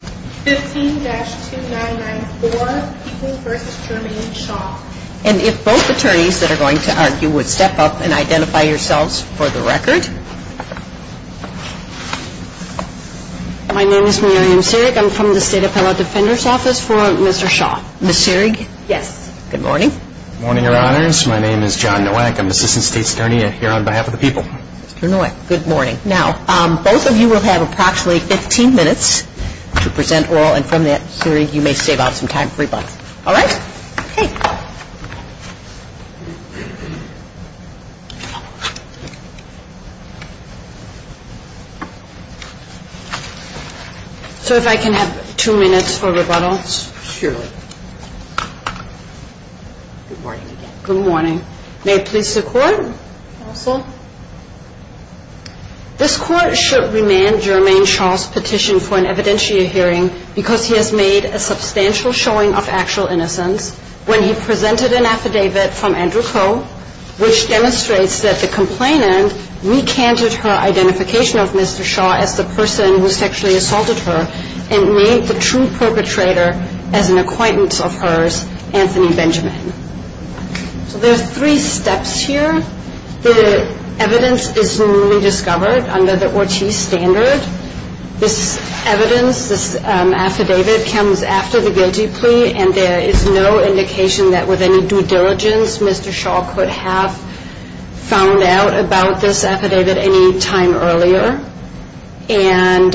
And if both attorneys that are going to argue would step up and identify yourselves for the record. My name is Miriam Sirig. I'm from the State Appellate Defender's Office for Mr. Shaw. Ms. Sirig? Yes. Good morning. Good morning, Your Honors. My name is John Nowak. I'm Assistant State's Attorney here on behalf of the people. Mr. Nowak, good morning. Now, both of you will have approximately 15 minutes to present your oral and from there, Ms. Sirig, you may save up some time for rebuttal. All right? Okay. So if I can have two minutes for rebuttal? Surely. Good morning again. Good morning. May it please the Court, counsel? This Court should remand Jermaine Shaw's petition for an evidentiary hearing because he has made a substantial showing of actual innocence when he presented an affidavit from Andrew Coe, which demonstrates that the complainant recanted her identification of Mr. Shaw as the person who sexually assaulted her and named the true perpetrator as an acquaintance of hers, Anthony Benjamin. So there are three steps here. The evidence is newly discovered under the Ortiz standard. This evidence, this affidavit, comes after the guilty plea and there is no indication that with any due diligence Mr. Shaw could have found out about this affidavit any time earlier. And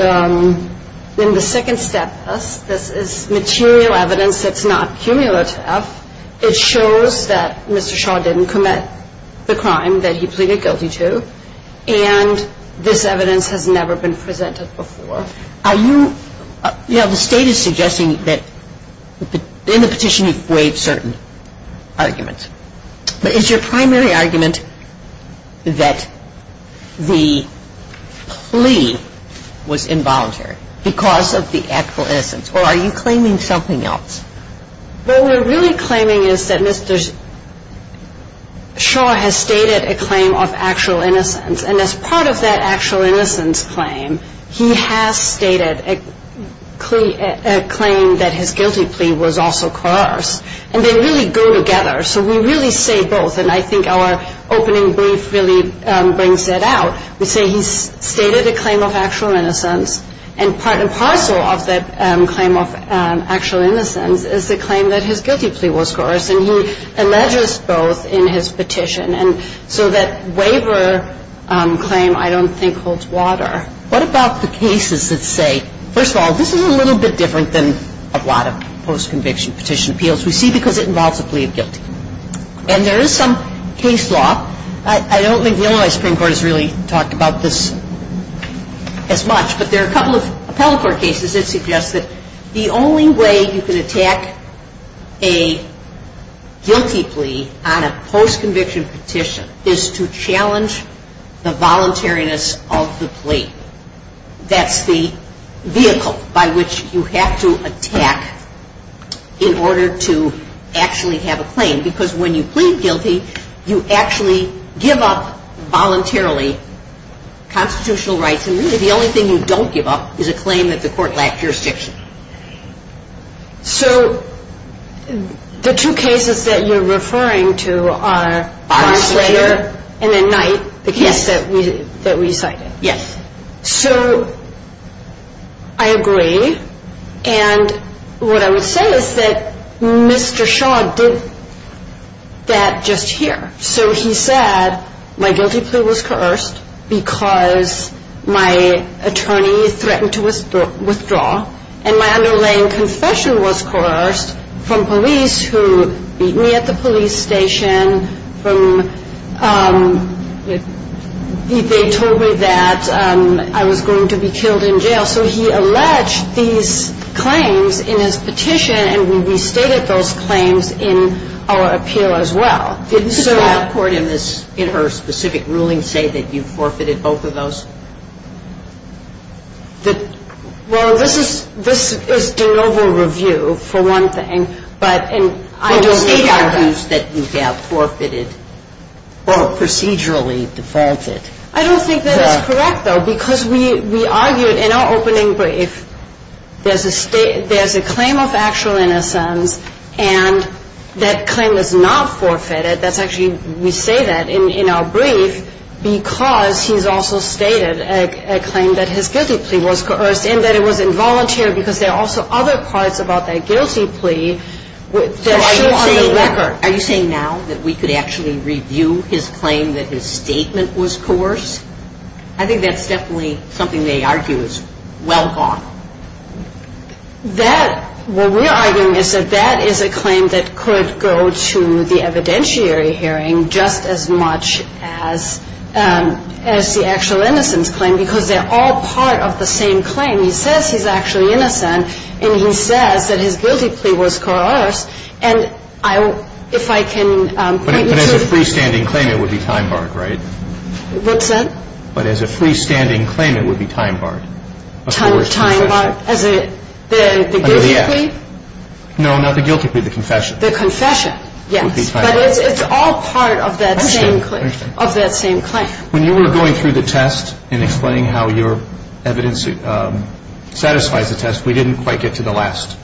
in the second step, this is material evidence that's not cumulative. It shows that Mr. Shaw didn't commit the crime that he pleaded guilty to and this evidence has never been presented before. Are you – you know, the State is suggesting that in the petition you've weighed certain arguments. But is your primary argument that the plea was involuntary because of the actual innocence or are you claiming something else? What we're really claiming is that Mr. Shaw has stated a claim of actual innocence and as part of that actual innocence claim, he has stated a claim that his guilty plea was also coerced. And they really go together. So we really say both. And I think our opening brief really brings that out. We say he's stated a claim of actual innocence and part and parcel of that claim of actual innocence is the claim that his guilty plea was coerced. And he alleges both in his petition. And so that waiver claim I don't think holds water. What about the cases that say, first of all, this is a little bit different than a lot of post-conviction petition appeals. We see because it involves a plea of guilt. And there is some case law. I don't think the Illinois Supreme Court has really talked about this as much. But there are a couple of appellate court cases that suggest that the only way you can attack a guilty plea on a post-conviction petition is to challenge the voluntariness of the plea. That's the vehicle by which you have to attack in order to actually have a claim. Because when you plead guilty, you actually give up voluntarily constitutional rights. And really the only thing you don't give up is a claim that the court lacked jurisdiction. So the two cases that you're referring to are Barnsleyer and then Knight, the case that we cited. Yes. So I agree. And what I would say is that Mr. Shaw did that just here. So he said my guilty plea was coerced because my attorney threatened to withdraw. And my underlying confession was coerced from police who beat me at the police station, from the police station. And they told me that I was going to be killed in jail. So he alleged these claims in his petition. And we restated those claims in our appeal as well. Did the Supreme Court in her specific ruling say that you forfeited both of those? Well, this is de novo review, for one thing. But I don't see that. Well, she argues that you have forfeited or procedurally defaulted. I don't think that is correct, though, because we argued in our opening brief there's a claim of actual innocence. And that claim is not forfeited. That's actually we say that in our brief because he's also stated a claim that his guilty plea was coerced and that it was involuntary because there are also other parts about that guilty plea that should be on the record. So are you saying now that we could actually review his claim that his statement was coerced? I think that's definitely something they argue is well gone. That, what we're arguing is that that is a claim that could go to the evidentiary hearing just as much as the actual innocence claim because they're all part of the same claim. He says he's actually innocent. And he says that his guilty plea was coerced. And if I can point you to the But as a freestanding claim, it would be time barred, right? What's that? But as a freestanding claim, it would be time barred. Time barred as a, the guilty plea? No, not the guilty plea, the confession. The confession, yes. But it's all part of that same claim. When you were going through the test and explaining how your evidence satisfies the test, we didn't quite get to the last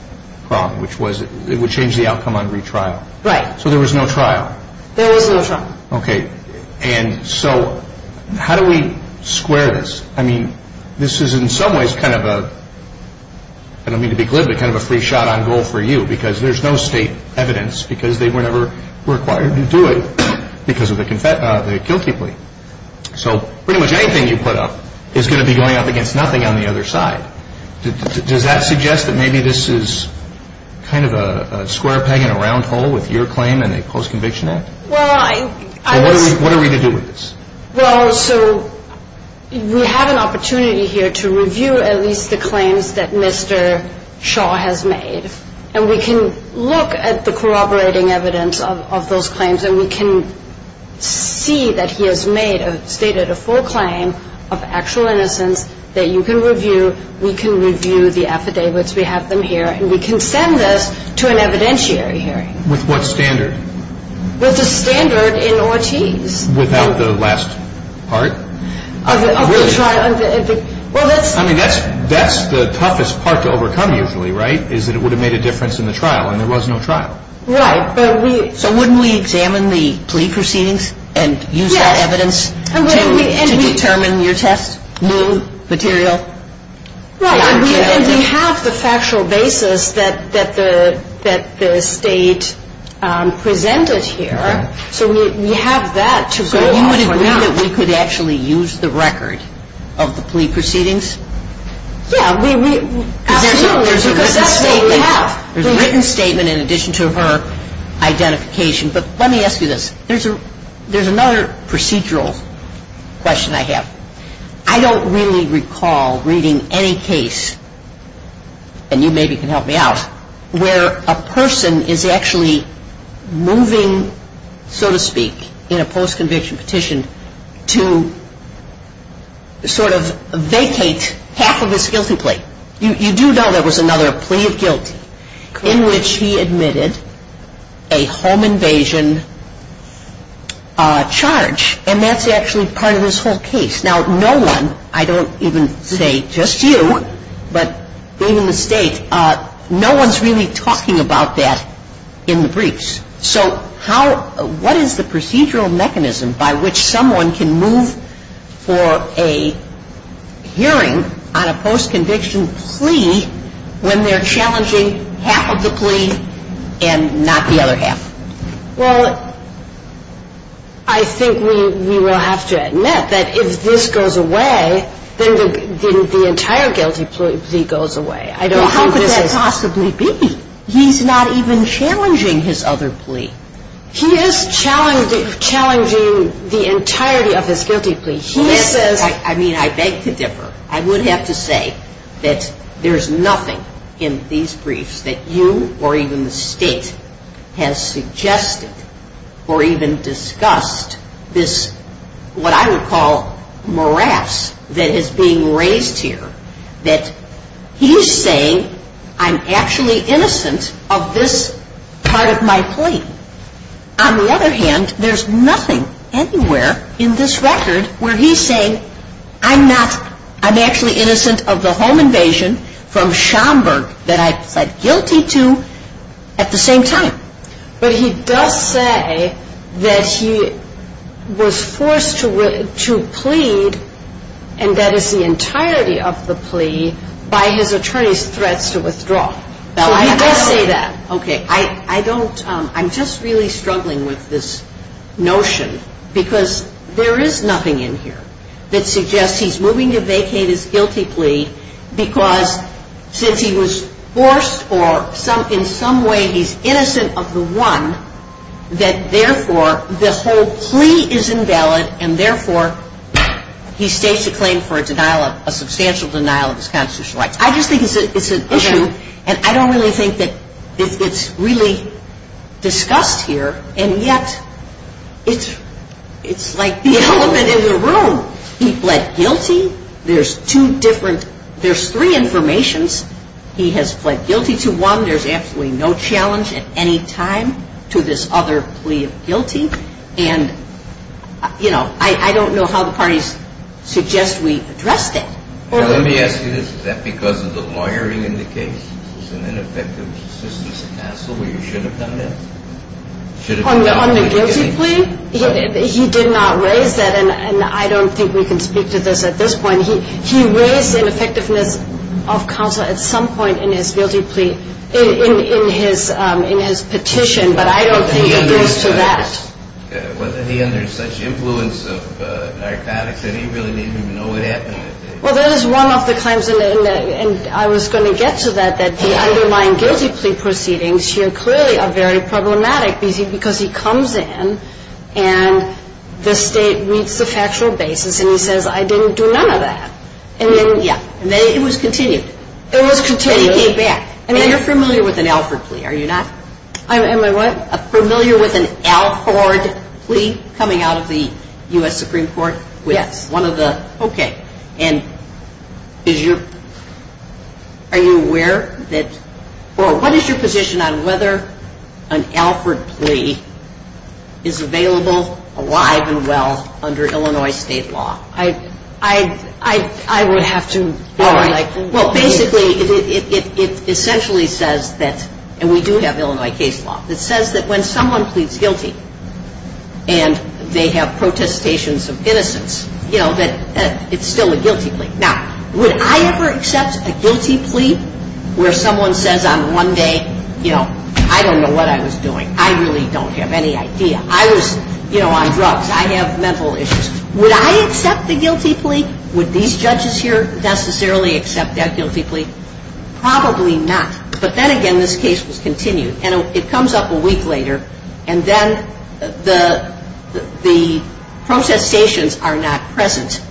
problem, which was it would change the outcome on retrial. Right. So there was no trial. There was no trial. Okay. And so how do we square this? I mean, this is in some ways kind of a, I don't mean to be glib, but kind of a free shot on goal for you because there's no state evidence because they were never required to do it because of the guilty plea. So pretty much anything you put up is going to be going up against nothing on the other side. Does that suggest that maybe this is kind of a square peg in a round hole with your claim in the Post-Conviction Act? Well, I was What are we to do with this? Well, so we have an opportunity here to review at least the claims that Mr. Shaw has made, and we can look at the corroborating evidence of those claims, and we can see that he made, stated a full claim of actual innocence that you can review. We can review the affidavits. We have them here, and we can send this to an evidentiary hearing. With what standard? With the standard in Ortiz. Without the last part? Of the trial. Really? Well, that's I mean, that's the toughest part to overcome usually, right, is that it would have made a difference in the trial, and there was no trial. Right. But we So wouldn't we examine the plea proceedings and use that evidence to determine your test? New material? Well, and we have the factual basis that the State presented here, so we have that to go off for now. So you would agree that we could actually use the record of the plea proceedings? Yeah, absolutely, because that's what we have. There's a written statement in addition to her identification, but let me ask you this. There's another procedural question I have. I don't really recall reading any case, and you maybe can help me out, where a person is actually moving, so to speak, in a post-conviction petition to sort of vacate half of You do know there was another plea of guilty in which he admitted a home invasion charge, and that's actually part of this whole case. Now, no one, I don't even say just you, but even the State, no one's really talking about that in the briefs. So how, what is the procedural mechanism by which someone can move for a hearing on a post-conviction plea when they're challenging half of the plea and not the other half? Well, I think we will have to admit that if this goes away, then the entire guilty plea goes away. I don't think this is Well, how could that possibly be? He's not even challenging his other plea. He is challenging the entirety of his guilty plea. He says I mean, I beg to differ. I would have to say that there's nothing in these briefs that you or even the State has suggested or even discussed this, what I would call morass that is being raised here, that he's saying I'm actually innocent of this part of my plea. On the other hand, there's nothing anywhere in this record where he's saying I'm not, I'm actually innocent of the home invasion from Schomburg that I pled guilty to at the same time. But he does say that he was forced to plead, and that is the entirety of the plea, by his attorney's threats to withdraw. So he does say that. Okay. I don't, I'm just really struggling with this notion because there is nothing in here that suggests he's moving to vacate his guilty plea because since he was forced or in some way he's innocent of the one, that therefore the whole plea is invalid, and therefore he states a claim for a denial, a substantial denial of his constitutional rights. I just think it's an issue, and I don't really think that it's really discussed here, and yet it's like the element in the room. He pled guilty. There's two different, there's three informations. He has pled guilty to one. There's absolutely no challenge at any time to this other plea of guilty, and you know, I don't know how the parties suggest we address that. Let me ask you this. Is that because of the lawyering in the case? There's an ineffectiveness of counsel where you should have done that? On the guilty plea? He did not raise that, and I don't think we can speak to this at this point. He raised ineffectiveness of counsel at some point in his guilty plea, in his petition, but I don't think it goes to that. Was he under such influence of narcotics that he really didn't even know what he was doing? Well, that is one of the claims, and I was going to get to that, that he undermined guilty plea proceedings. Here, clearly, a very problematic because he comes in, and the state meets the factual basis, and he says, I didn't do none of that. Yeah, and then it was continued. It was continued. And he came back. And you're familiar with an Alford plea, are you not? Am I what? Familiar with an Alford plea coming out of the U.S. Supreme Court? Yes. One of the, okay. And is your, are you aware that, or what is your position on whether an Alford plea is available, alive and well, under Illinois state law? I would have to. Well, basically, it essentially says that, and we do have Illinois case law, it says that when someone pleads guilty, and they have protestations of innocence, you know, that it's still a guilty plea. Now, would I ever accept a guilty plea where someone says on one day, you know, I don't know what I was doing. I really don't have any idea. I was, you know, on drugs. I have mental issues. Would I accept the guilty plea? Would these judges here necessarily accept that guilty plea? Probably not. But then again, this case was continued. And it comes up a week later, and then the protestations are not present.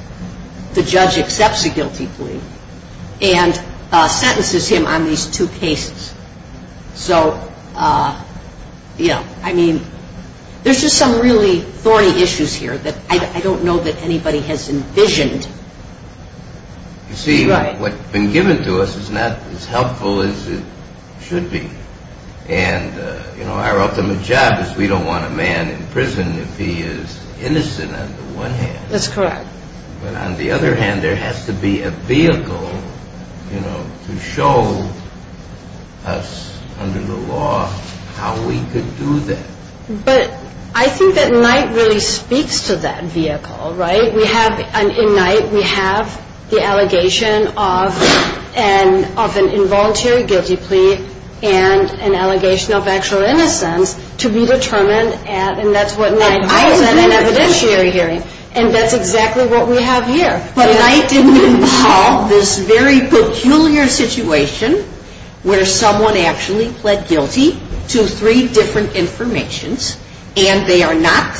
The judge accepts the guilty plea and sentences him on these two cases. So, you know, I mean, there's just some really thorny issues here that I don't know that anybody has envisioned. You see, what's been given to us is not as helpful as it should be. And, you know, our ultimate job is we don't want a man in prison if he is innocent on the one hand. That's correct. But on the other hand, there has to be a vehicle, you know, to show us under the law how we could do that. But I think that night really speaks to that vehicle, right? In night, we have the allegation of an involuntary guilty plea and an allegation of actual innocence to be determined, and that's what night holds at an evidentiary hearing. And that's exactly what we have here. But night didn't involve this very peculiar situation where someone actually pled guilty to three different informations, and they are not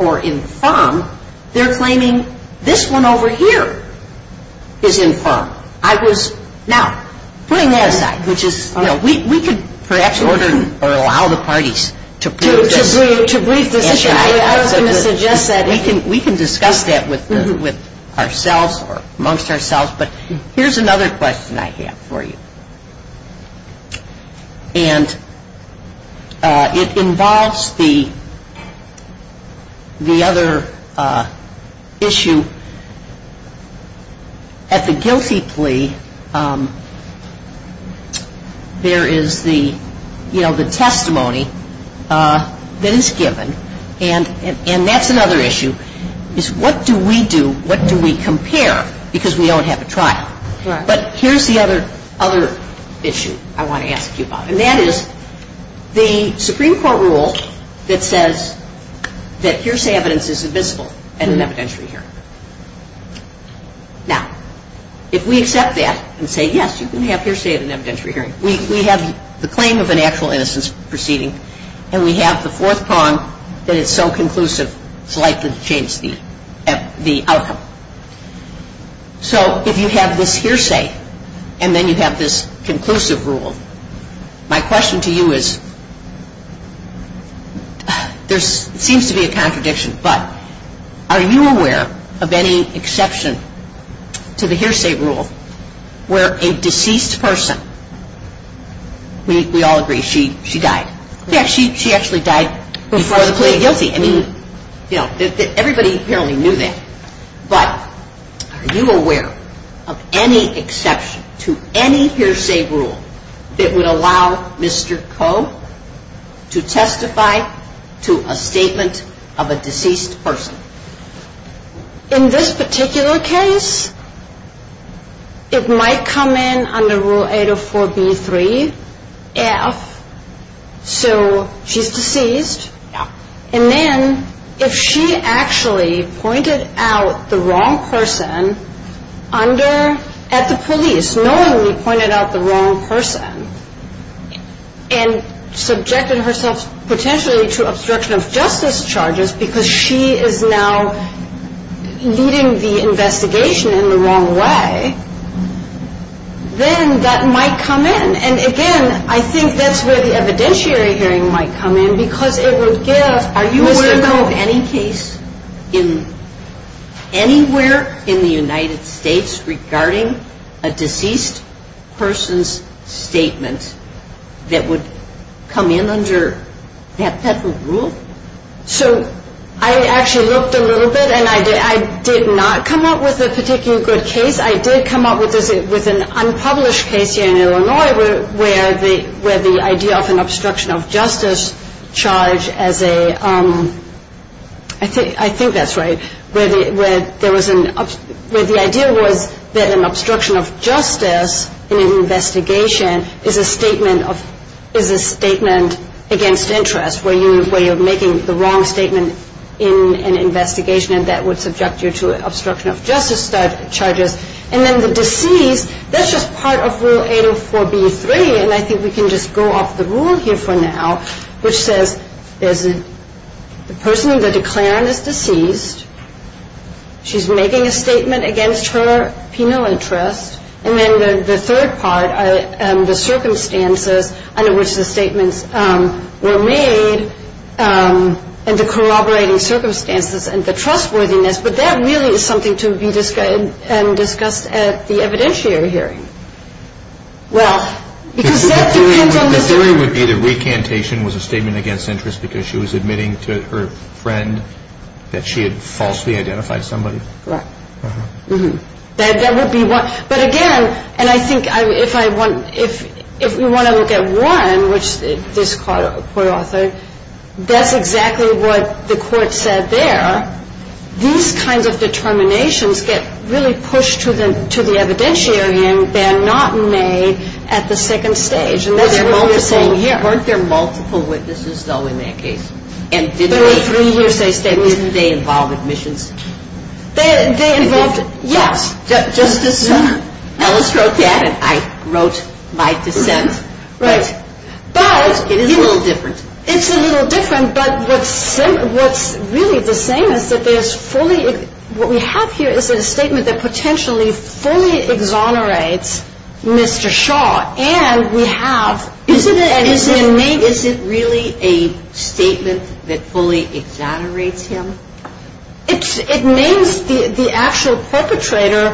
or inform, they're claiming this one over here is informed. I was now putting that aside, which is, you know, we could perhaps order or allow the parties to prove this. To brief this issue. I was going to suggest that we can discuss that with ourselves or amongst ourselves. But here's another question I have for you. And it involves the other issue. At the guilty plea, there is the, you know, the testimony that is given, and that's another issue, is what do we do, what do we compare, because we don't have a trial. But here's the other issue I want to ask you about, and that is the Supreme Court rule that says that hearsay evidence is invisible at an evidentiary hearing. Now, if we accept that and say, yes, you can have hearsay at an evidentiary hearing, we have the claim of an actual innocence proceeding, and we have the fourth prong that it's so conclusive it's likely to change the outcome. So if you have this hearsay and then you have this conclusive rule, my question to you is, there seems to be a contradiction, but are you aware of any exception to the hearsay rule where a deceased person, we all agree she died. Yes, she actually died before the plea of guilty. Everybody apparently knew that. But are you aware of any exception to any hearsay rule that would allow Mr. Koh to testify to a statement of a deceased person? In this particular case, it might come in under Rule 804B3F, so she's deceased. And then if she actually pointed out the wrong person at the police, knowingly pointed out the wrong person and subjected herself potentially to obstruction of justice charges because she is now leading the investigation in the wrong way, then that might come in. And, again, I think that's where the evidentiary hearing might come in because it would give Mr. Koh. Are you aware of any case anywhere in the United States regarding a deceased person's statement that would come in under that rule? So I actually looked a little bit, and I did not come up with a particular good case. I did come up with an unpublished case here in Illinois where the idea of an obstruction of justice charge as a – I think that's right – where there was an – where the idea was that an obstruction of justice in an investigation is a statement of – is a statement against interest where you're making the wrong statement in an investigation, and that would subject you to obstruction of justice charges. And then the deceased, that's just part of Rule 804B3, and I think we can just go off the rule here for now, which says the person in the declarant is deceased, she's making a statement against her penal interest, and then the third part are the circumstances under which the statements were made and the corroborating circumstances and the trustworthiness. But that really is something to be discussed at the evidentiary hearing. Well, because that depends on the – The theory would be the recantation was a statement against interest because she was admitting to her friend that she had falsely identified somebody. Right. That would be one. But again, and I think if I want – if we want to look at one, which this court authored, that's exactly what the court said there. These kinds of determinations get really pushed to the evidentiary and they're not made at the second stage. And that's what we're saying here. Weren't there multiple witnesses, though, in that case? There were three hearsay statements. Didn't they involve admissions? They involved – yes. Justice Ellis wrote that and I wrote my dissent. Right. But – It is a little different. It's a little different. But what's really the same is that there's fully – what we have here is a statement that potentially fully exonerates Mr. Shaw. And we have – Is it really a statement that fully exonerates him? It names the actual perpetrator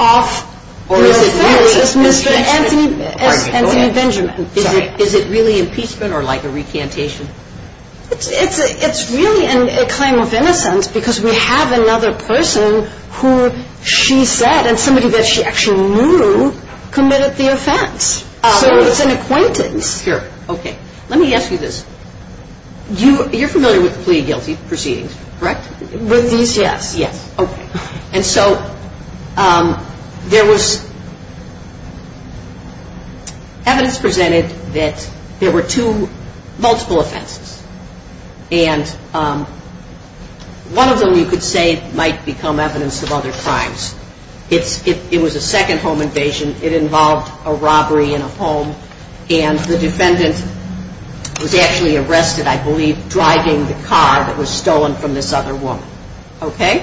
of – Or is it really impeachment? Anthony Benjamin. Is it really impeachment or like a recantation? It's really a claim of innocence because we have another person who she said and somebody that she actually knew committed the offense. So it's an acquaintance. Okay. Let me ask you this. You're familiar with the plea guilty proceedings, correct? With these, yes. Yes. Okay. And so there was evidence presented that there were two – multiple offenses. And one of them you could say might become evidence of other crimes. It was a second home invasion. It involved a robbery in a home. And the defendant was actually arrested, I believe, driving the car that was stolen from this other woman. Okay?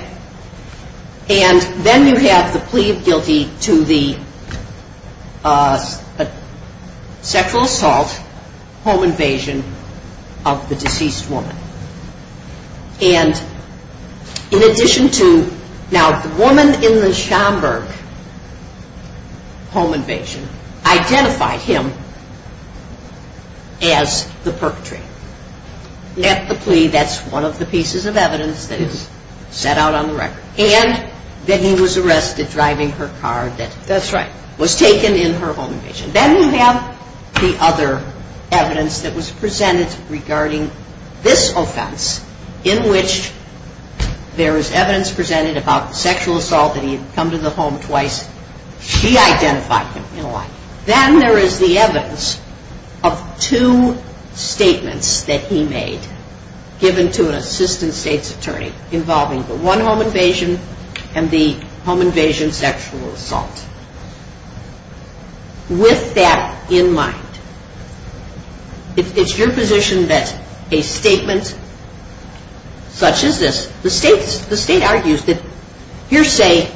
And then you have the plea of guilty to the sexual assault, home invasion of the deceased woman. And in addition to – Now, the woman in the Schomburg home invasion identified him as the perpetrator. At the plea, that's one of the pieces of evidence that is set out on the record. And that he was arrested driving her car that was taken in her home invasion. Then you have the other evidence that was presented regarding this offense in which there was evidence presented about the sexual assault that he had come to the home twice. She identified him. Then there is the evidence of two statements that he made given to an assistant state's attorney involving the one home invasion and the home invasion sexual assault. With that in mind, it's your position that a statement such as this, the state argues that hearsay,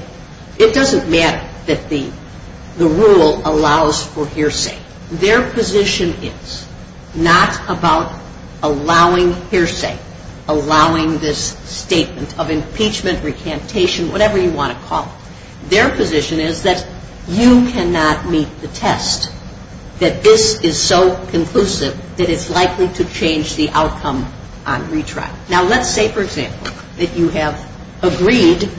it doesn't matter that the rule allows for hearsay. Their position is not about allowing hearsay, allowing this statement of impeachment, recantation, whatever you want to call it. Their position is that you cannot meet the test, that this is so conclusive that it's likely to change the outcome on retrial. Now let's say, for example, that you have agreed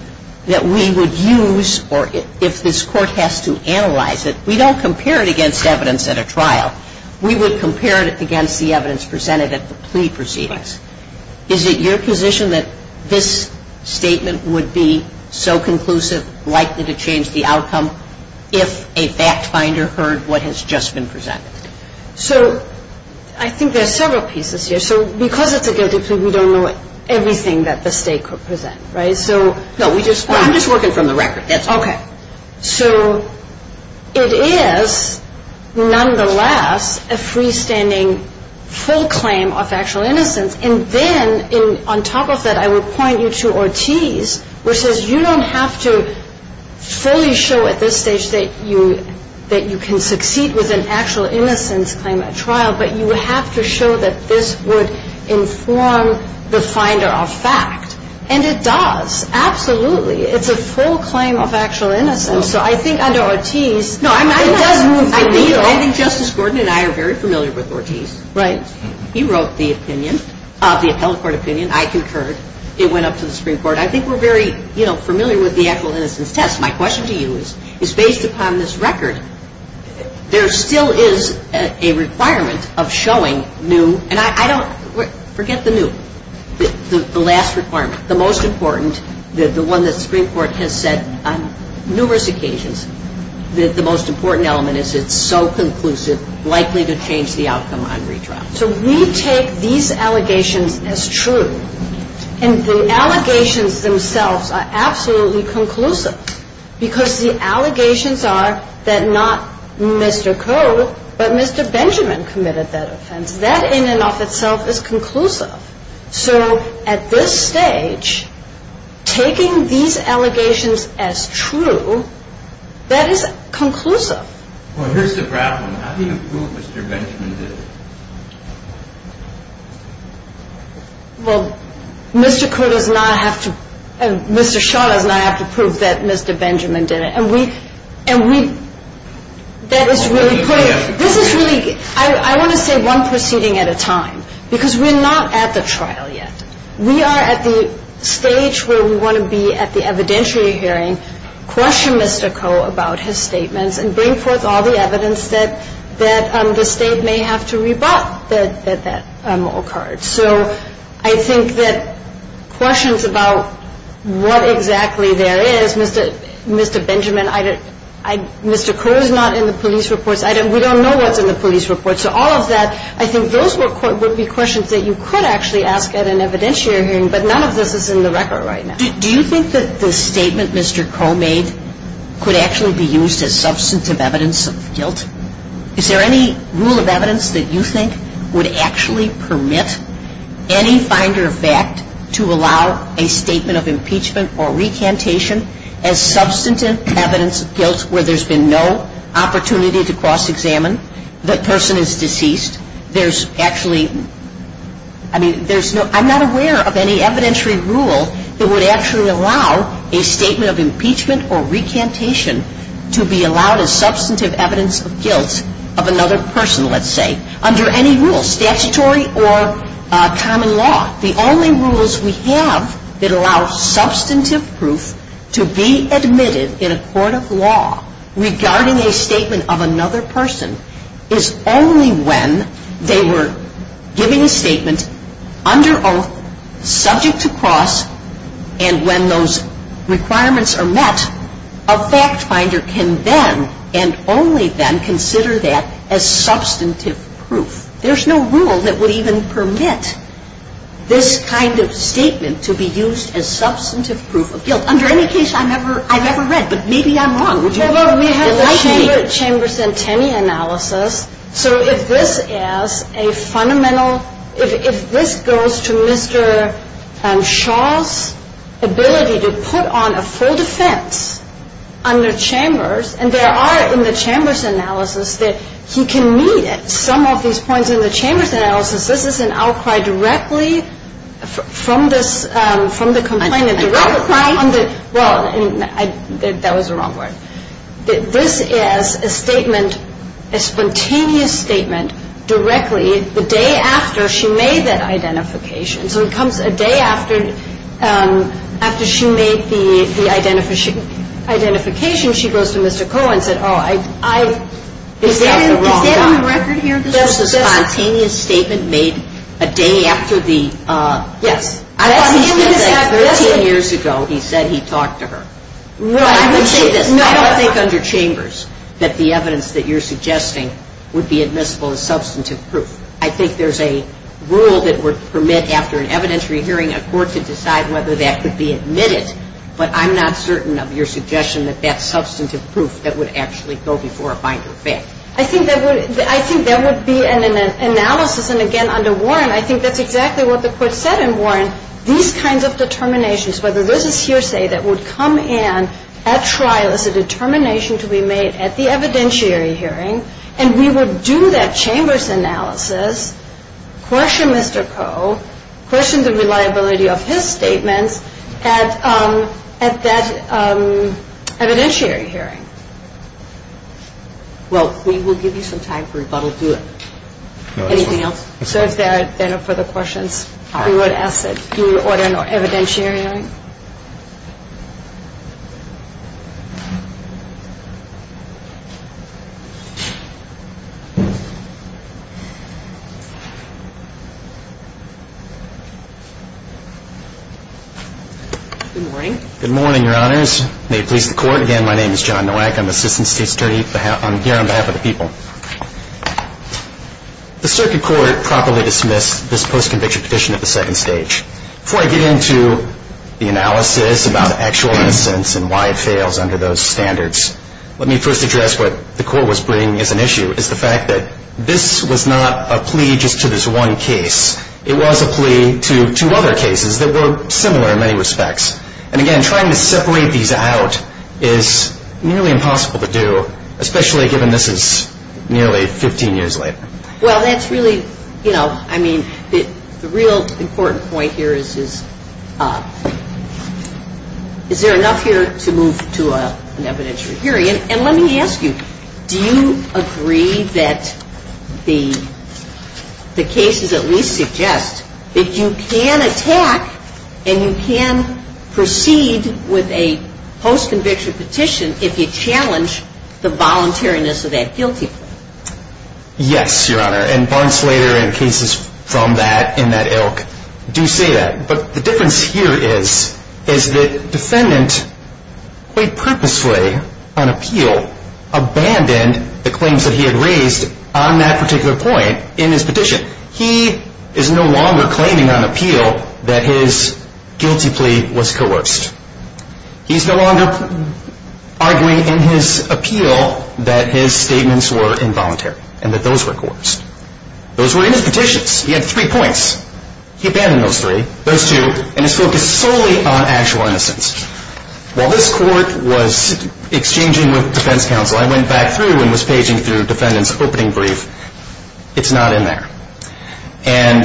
that we would use, or if this Court has to analyze it, we don't compare it against evidence at a trial. We would compare it against the evidence presented at the plea proceedings. Is it your position that this statement would be so conclusive, likely to change the outcome, if a fact finder heard what has just been presented? So I think there are several pieces here. So because it's a guilty plea, we don't know everything that the state could present, right? No, I'm just working from the record. That's all. Okay. So it is, nonetheless, a freestanding full claim of factual innocence. And then, on top of that, I would point you to Ortiz, which says you don't have to fully show at this stage that you can succeed with an actual innocence claim at trial, but you have to show that this would inform the finder of fact. And it does, absolutely. It's a full claim of actual innocence. So I think under Ortiz, it does move the needle. No, I think Justice Gordon and I are very familiar with Ortiz. Right. He wrote the opinion, the appellate court opinion. I concurred. It went up to the Supreme Court. I think we're very, you know, familiar with the actual innocence test. My question to you is, based upon this record, there still is a requirement of showing new, and I don't, forget the new, the last requirement, the most important, the one that the Supreme Court has said on numerous occasions, that the most important element is it's so conclusive, likely to change the outcome on retrial. So we take these allegations as true. And the allegations themselves are absolutely conclusive, because the allegations are that not Mr. Koh, but Mr. Benjamin committed that offense. That in and of itself is conclusive. So at this stage, taking these allegations as true, that is conclusive. Well, here's the problem. How do you prove Mr. Benjamin did it? Well, Mr. Koh does not have to, and Mr. Shaw does not have to prove that Mr. Benjamin did it. And we, and we, that is really clear. This is really, I want to say one proceeding at a time, because we're not at the trial yet. We are at the stage where we want to be at the evidentiary hearing, question Mr. Koh about his statements, and bring forth all the evidence that the State may have to reject. We bought that mohawk card. So I think that questions about what exactly there is, Mr. Benjamin, Mr. Koh is not in the police reports. We don't know what's in the police reports. So all of that, I think those would be questions that you could actually ask at an evidentiary hearing, but none of this is in the record right now. Do you think that the statement Mr. Koh made could actually be used as substantive evidence of guilt? Is there any rule of evidence that you think would actually permit any finder of fact to allow a statement of impeachment or recantation as substantive evidence of guilt where there's been no opportunity to cross-examine the person who's deceased? There's actually, I mean, there's no, I'm not aware of any evidentiary rule that would actually allow a statement of impeachment or recantation to be allowed as substantive evidence of guilt of another person, let's say, under any rule, statutory or common law. The only rules we have that allow substantive proof to be admitted in a court of law regarding a statement of another person is only when they were giving a statement of guilt. And when those requirements are met, a fact finder can then, and only then, consider that as substantive proof. There's no rule that would even permit this kind of statement to be used as substantive proof of guilt under any case I've ever read. But maybe I'm wrong. Would you? Well, we have the Chambers and Tenney analysis. So if this is a fundamental, if this goes to Mr. Shaw's ability to put on a full defense under Chambers, and there are, in the Chambers analysis, that he can meet some of these points in the Chambers analysis. This is an outcry directly from the complainant. An outcry? Well, that was the wrong word. This is a statement, a spontaneous statement, directly the day after she made that identification. So it comes a day after she made the identification, she goes to Mr. Cohen and said, oh, I've got the wrong guy. Is that on the record here? That's a spontaneous statement made a day after the? Yes. I thought he said 13 years ago he said he talked to her. Right. I would say this. I don't think under Chambers that the evidence that you're suggesting would be admissible as substantive proof. I think there's a rule that would permit after an evidentiary hearing a court to decide whether that could be admitted. But I'm not certain of your suggestion that that's substantive proof that would actually go before a binder of fact. I think that would be an analysis. And, again, under Warren, I think that's exactly what the court said in Warren. These kinds of determinations, whether this is hearsay that would come in at trial as a determination to be made at the evidentiary hearing, and we would do that Chambers analysis, question Mr. Koh, question the reliability of his statements at that evidentiary hearing. Well, we will give you some time for rebuttal. Do it. Anything else? So if there are no further questions, we would ask that you order an evidentiary hearing. Good morning. Good morning, Your Honors. May it please the Court. Again, my name is John Nowak. I'm Assistant State Attorney here on behalf of the people. The circuit court properly dismissed this post-conviction petition at the second stage. Before I get into the analysis about the actual innocence and why it fails under those standards, let me first address what the court was bringing as an issue, is the fact that this was not a plea just to this one case. It was a plea to two other cases that were similar in many respects. And, again, trying to separate these out is nearly impossible to do, especially given this is nearly 15 years later. Well, that's really, you know, I mean, the real important point here is, is there enough here to move to an evidentiary hearing? And let me ask you, do you agree that the cases at least suggest that you can attack and you can proceed with a post-conviction petition if you challenge the voluntariness of that guilty plea? Yes, Your Honor, and Barnsleyer and cases from that, in that ilk, do say that. But the difference here is, is that the defendant, quite purposefully on appeal, abandoned the claims that he had raised on that particular point in his petition. He is no longer claiming on appeal that his guilty plea was coerced. He is no longer arguing in his appeal that his statements were involuntary and that those were coerced. Those were in his petitions. He had three points. He abandoned those three, those two, and his focus solely on actual innocence. While this court was exchanging with defense counsel, I went back through and was paging through the defendant's opening brief. It's not in there. And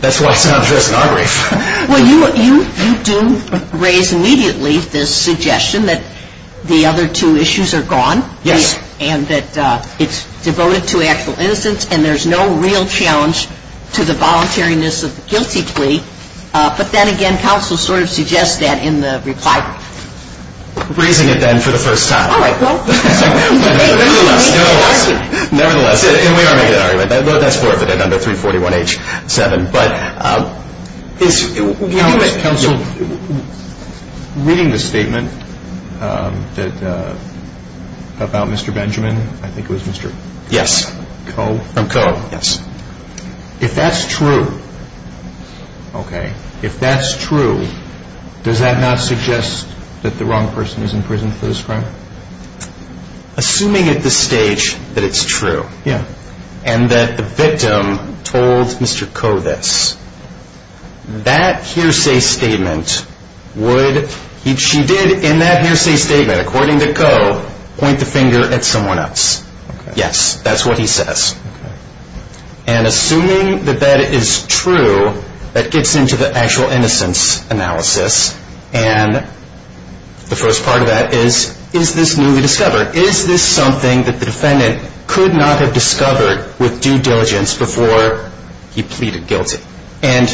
that's why it's not addressed in our brief. Well, you do raise immediately this suggestion that the other two issues are gone. Yes. And that it's devoted to actual innocence and there's no real challenge to the voluntariness of the guilty plea. But then again, counsel sort of suggests that in the reply. Raising it, then, for the first time. All right, well. Nevertheless, nevertheless. Nevertheless, we are making an argument. That's part of it, under 341H7. Counsel, reading the statement about Mr. Benjamin, I think it was Mr. Coe. Yes. If that's true, okay, if that's true, does that not suggest that the wrong person is in prison for this crime? Assuming at this stage that it's true. Yeah. And that the victim told Mr. Coe this. That hearsay statement would, she did in that hearsay statement, according to Coe, point the finger at someone else. Yes, that's what he says. And assuming that that is true, that gets into the actual innocence analysis. And the first part of that is, is this newly discovered? Is this something that the defendant could not have discovered with due diligence before he pleaded guilty? And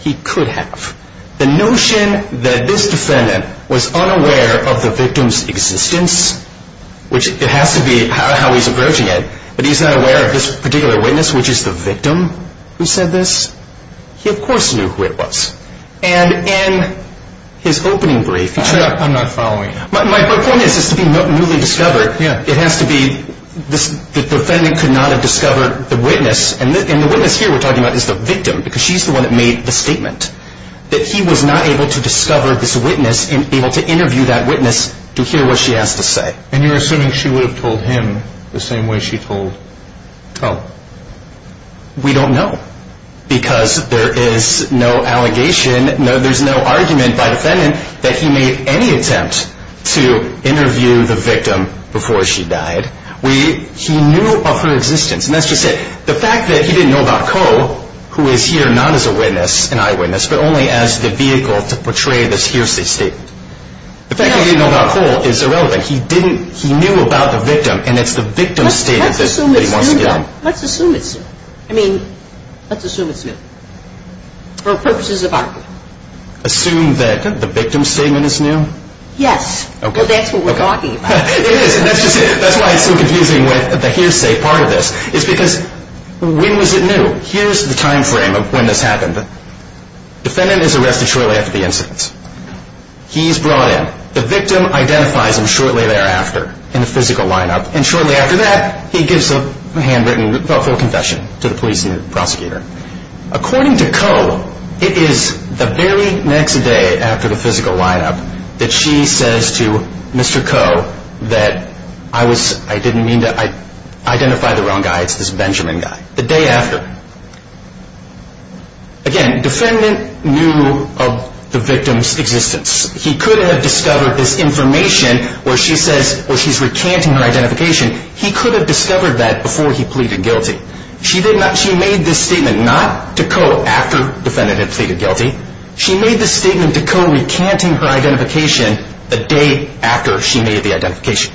he could have. The notion that this defendant was unaware of the victim's existence, which it has to be how he's approaching it, but he's not aware of this particular witness, which is the victim who said this, he of course knew who it was. And in his opening brief, he said. I'm not following you. My point is, is to be newly discovered, it has to be that the defendant could not have discovered the witness. And the witness here we're talking about is the victim, because she's the one that made the statement. That he was not able to discover this witness and able to interview that witness to hear what she has to say. And you're assuming she would have told him the same way she told Coe. We don't know. Because there is no allegation. There's no argument by the defendant that he made any attempt to interview the victim before she died. He knew of her existence. And that's just it. The fact that he didn't know about Coe, who is here not as a witness, an eyewitness, but only as the vehicle to portray this hearsay statement. The fact that he didn't know about Coe is irrelevant. He knew about the victim, and it's the victim's statement that he wants to get on. Let's assume it's true. I mean, let's assume it's new. For purposes of argument. Assume that the victim's statement is new? Yes. Well, that's what we're talking about. It is. That's why it's so confusing with the hearsay part of this. It's because when was it new? Here's the time frame of when this happened. Defendant is arrested shortly after the incident. He's brought in. The victim identifies him shortly thereafter in the physical lineup. And shortly after that, he gives a handwritten, thoughtful confession to the police and the prosecutor. According to Coe, it is the very next day after the physical lineup that she says to Mr. Coe that, I didn't mean to identify the wrong guy. It's this Benjamin guy. The day after. Again, defendant knew of the victim's existence. He could have discovered this information where she's recanting her identification. He could have discovered that before he pleaded guilty. She made this statement not to Coe after defendant had pleaded guilty. She made this statement to Coe recanting her identification the day after she made the identification.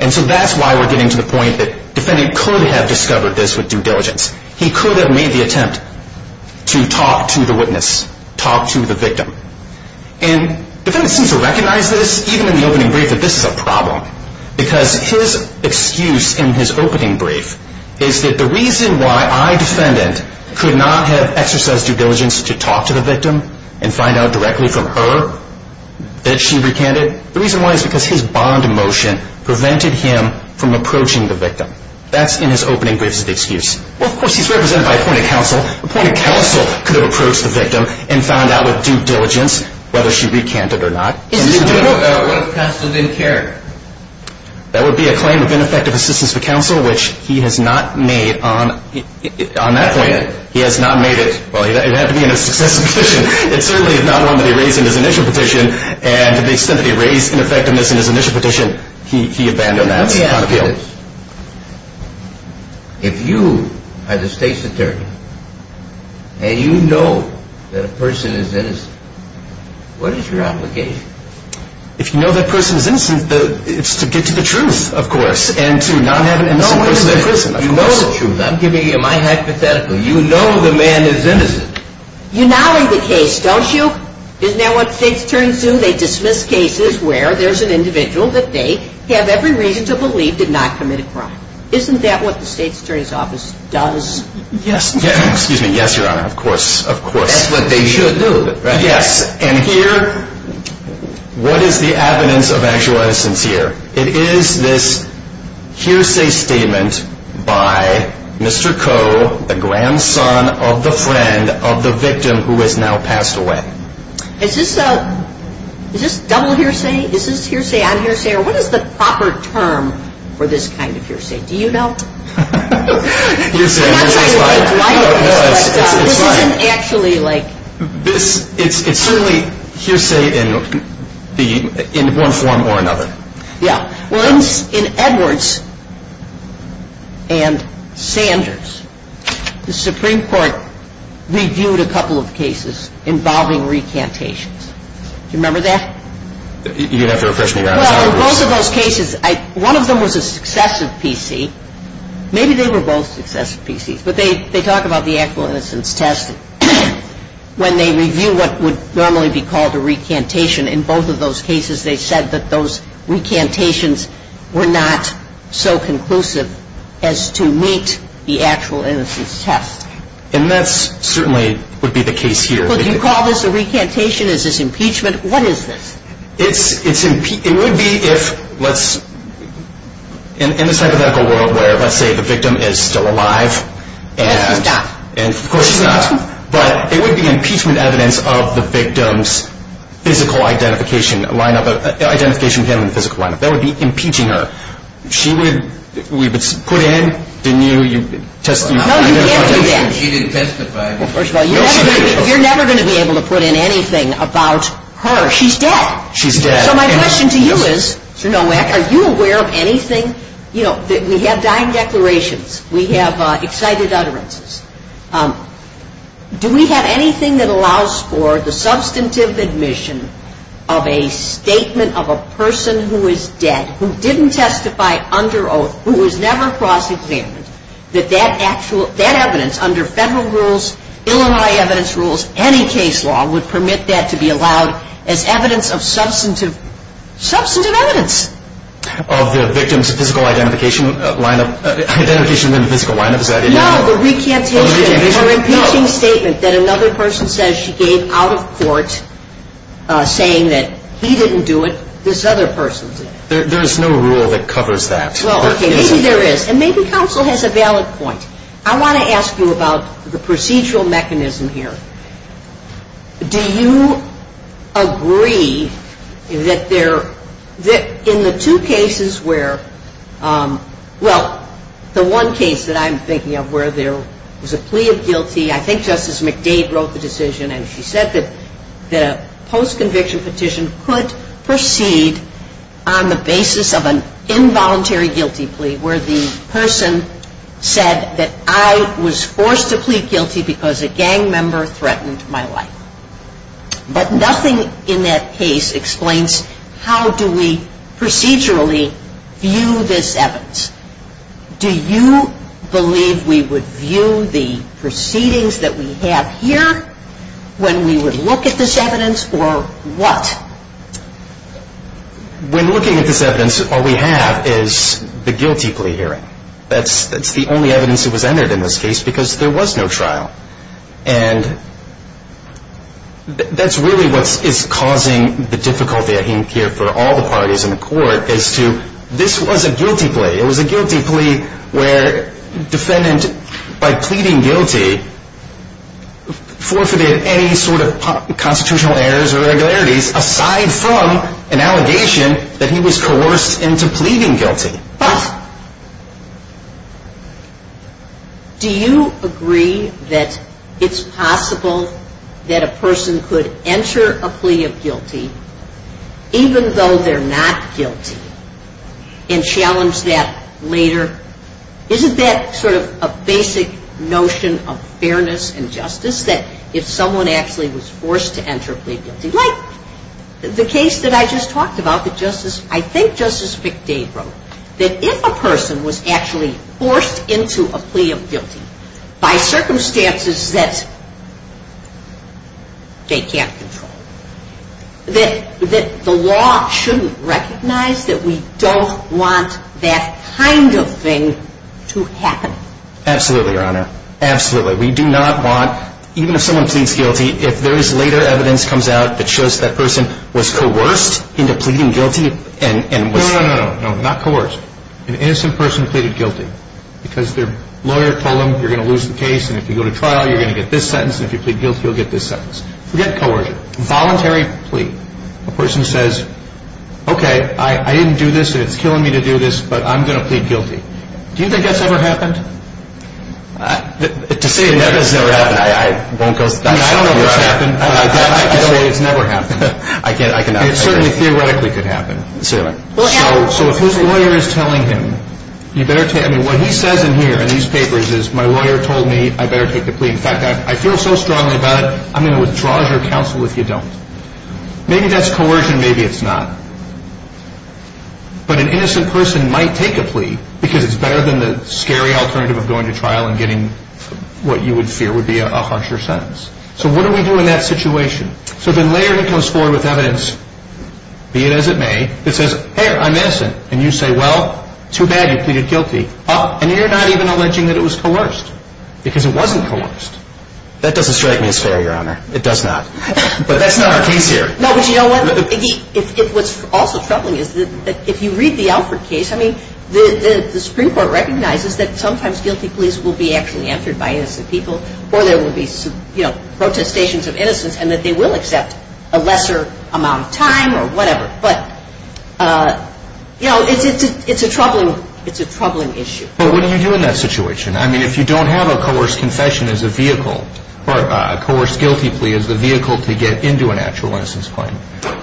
And so that's why we're getting to the point that defendant could have discovered this with due diligence. He could have made the attempt to talk to the witness, talk to the victim. And defendant seems to recognize this, even in the opening brief, that this is a problem. Because his excuse in his opening brief is that the reason why I, defendant, could not have exercised due diligence to talk to the victim and find out directly from her that she recanted, the reason why is because his bond emotion prevented him from approaching the victim. That's in his opening brief is the excuse. Well, of course, he's represented by appointed counsel. Appointed counsel could have approached the victim and found out with due diligence whether she recanted or not. What if counsel didn't care? That would be a claim of ineffective assistance to counsel, which he has not made on that point. He has not made it. Well, it would have to be in a successive petition. It certainly is not one that he raised in his initial petition. And to the extent that he raised ineffectiveness in his initial petition, he abandoned that appeal. If you are the state's attorney and you know that a person is innocent, what is your obligation? If you know that person is innocent, it's to get to the truth, of course, and to not have an innocent person. You know the truth. I'm giving you my hypothetical. You know the man is innocent. You know the case, don't you? Isn't that what states attorneys do? They dismiss cases where there's an individual that they have every reason to believe did not commit a crime. Isn't that what the state's attorney's office does? Yes. Excuse me. Yes, Your Honor, of course, of course. That's what they should do. Yes. And here, what is the evidence of actual innocence here? It is this hearsay statement by Mr. Coe, the grandson of the friend of the victim who has now passed away. Is this double hearsay? Is this hearsay on hearsay? Or what is the proper term for this kind of hearsay? Do you know? Hearsay is fine. This isn't actually like… It's certainly hearsay in one form or another. Well, in Edwards and Sanders, the Supreme Court reviewed a couple of cases involving recantations. Do you remember that? You have to refresh me, Your Honor. Well, in both of those cases, one of them was a successive PC. Maybe they were both successive PCs, but they talk about the actual innocence test. When they review what would normally be called a recantation in both of those cases, they said that those recantations were not so conclusive as to meet the actual innocence test. And that certainly would be the case here. Well, do you call this a recantation? Is this impeachment? What is this? It would be if, in this hypothetical world where, let's say, the victim is still alive. Yes, he's not. Of course, he's not. But it would be impeachment evidence of the victim's physical identification line-up, identification with him in the physical line-up. That would be impeaching her. She would be put in, didn't you? No, you can't do that. She didn't testify. Well, first of all, you're never going to be able to put in anything about her. She's dead. She's dead. So my question to you is, Mr. Nowak, are you aware of anything? We have dying declarations. We have excited utterances. Do we have anything that allows for the substantive admission of a statement of a person who is dead, who didn't testify under oath, who was never prosecuted, that that evidence under federal rules, Illinois evidence rules, any case law, would permit that to be allowed as evidence of substantive evidence? Of the victim's physical identification line-up. Identification in the physical line-up. No, the recantation, her impeaching statement that another person says she gave out of court, saying that he didn't do it, this other person did it. There is no rule that covers that. Well, okay, maybe there is. And maybe counsel has a valid point. I want to ask you about the procedural mechanism here. Do you agree that in the two cases where, well, the one case that I'm thinking of where there was a plea of guilty, I think Justice McDade wrote the decision, and she said that a post-conviction petition could proceed on the basis of an involuntary guilty plea, where the person said that I was forced to plead guilty because a gang member threatened my life. But nothing in that case explains how do we procedurally view this evidence. Do you believe we would view the proceedings that we have here when we would look at this evidence, or what? When looking at this evidence, all we have is the guilty plea hearing. That's the only evidence that was entered in this case because there was no trial. And that's really what is causing the difficulty I think here for all the parties in the court, as to this was a guilty plea. It was a guilty plea where defendant, by pleading guilty, forfeited any sort of constitutional errors or irregularities, aside from an allegation that he was coerced into pleading guilty. Do you agree that it's possible that a person could enter a plea of guilty, even though they're not guilty, and challenge that later? Isn't that sort of a basic notion of fairness and justice, that if someone actually was forced to enter a plea of guilty? Like the case that I just talked about that I think Justice McDade wrote, that if a person was actually forced into a plea of guilty by circumstances that they can't control, that the law shouldn't recognize that we don't want that kind of thing to happen. Absolutely, Your Honor. Absolutely. We do not want, even if someone pleads guilty, if there is later evidence comes out that shows that person was coerced into pleading guilty and was... No, no, no, no. Not coerced. An innocent person pleaded guilty because their lawyer told them you're going to lose the case, and if you go to trial you're going to get this sentence, and if you plead guilty you'll get this sentence. Forget coercion. Voluntary plea. A person says, okay, I didn't do this, and it's killing me to do this, but I'm going to plead guilty. Do you think that's ever happened? To say that it's never happened, I won't go... I don't know if it's happened, but I can say it's never happened. I cannot say that. It certainly theoretically could happen. So if his lawyer is telling him, you better take... I mean, what he says in here, in these papers, is my lawyer told me I better take the plea. In fact, I feel so strongly about it, I'm going to withdraw your counsel if you don't. Maybe that's coercion, maybe it's not. But an innocent person might take a plea, because it's better than the scary alternative of going to trial and getting what you would fear would be a harsher sentence. So what do we do in that situation? So then later he comes forward with evidence, be it as it may, that says, hey, I'm innocent, and you say, well, too bad, you pleaded guilty. And you're not even alleging that it was coerced, because it wasn't coerced. That doesn't strike me as fair, Your Honor. It does not. But that's not our case here. No, but you know what? What's also troubling is that if you read the Alford case, I mean, the Supreme Court recognizes that sometimes guilty pleas will be actually answered by innocent people, or there will be protestations of innocence, and that they will accept a lesser amount of time or whatever. But, you know, it's a troubling issue. But what do you do in that situation? I mean, if you don't have a coerced confession as a vehicle, or a coerced guilty plea as the vehicle to get into an actual innocence claim,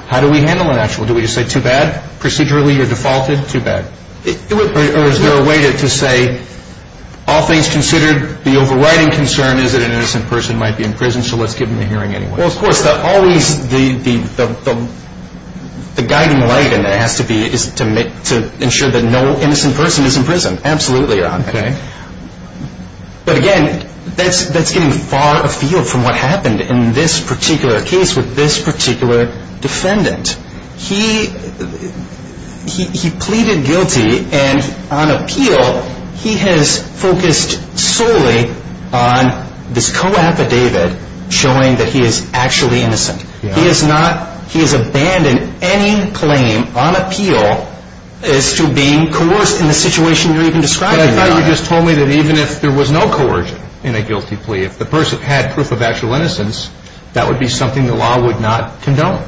how do we handle an actual? Do we just say, too bad, procedurally you're defaulted? Too bad. Or is there a way to say, all things considered, the overriding concern is that an innocent person might be in prison, so let's give them a hearing anyway. Well, of course, always the guiding light in there has to be to ensure that no innocent person is in prison. Absolutely, Your Honor. Okay. But again, that's getting far afield from what happened in this particular case with this particular defendant. He pleaded guilty, and on appeal, he has focused solely on this co-affidavit showing that he is actually innocent. He has abandoned any claim on appeal as to being coerced in the situation you're even describing, Your Honor. But I thought you just told me that even if there was no coercion in a guilty plea, if the person had proof of actual innocence, that would be something the law would not condone,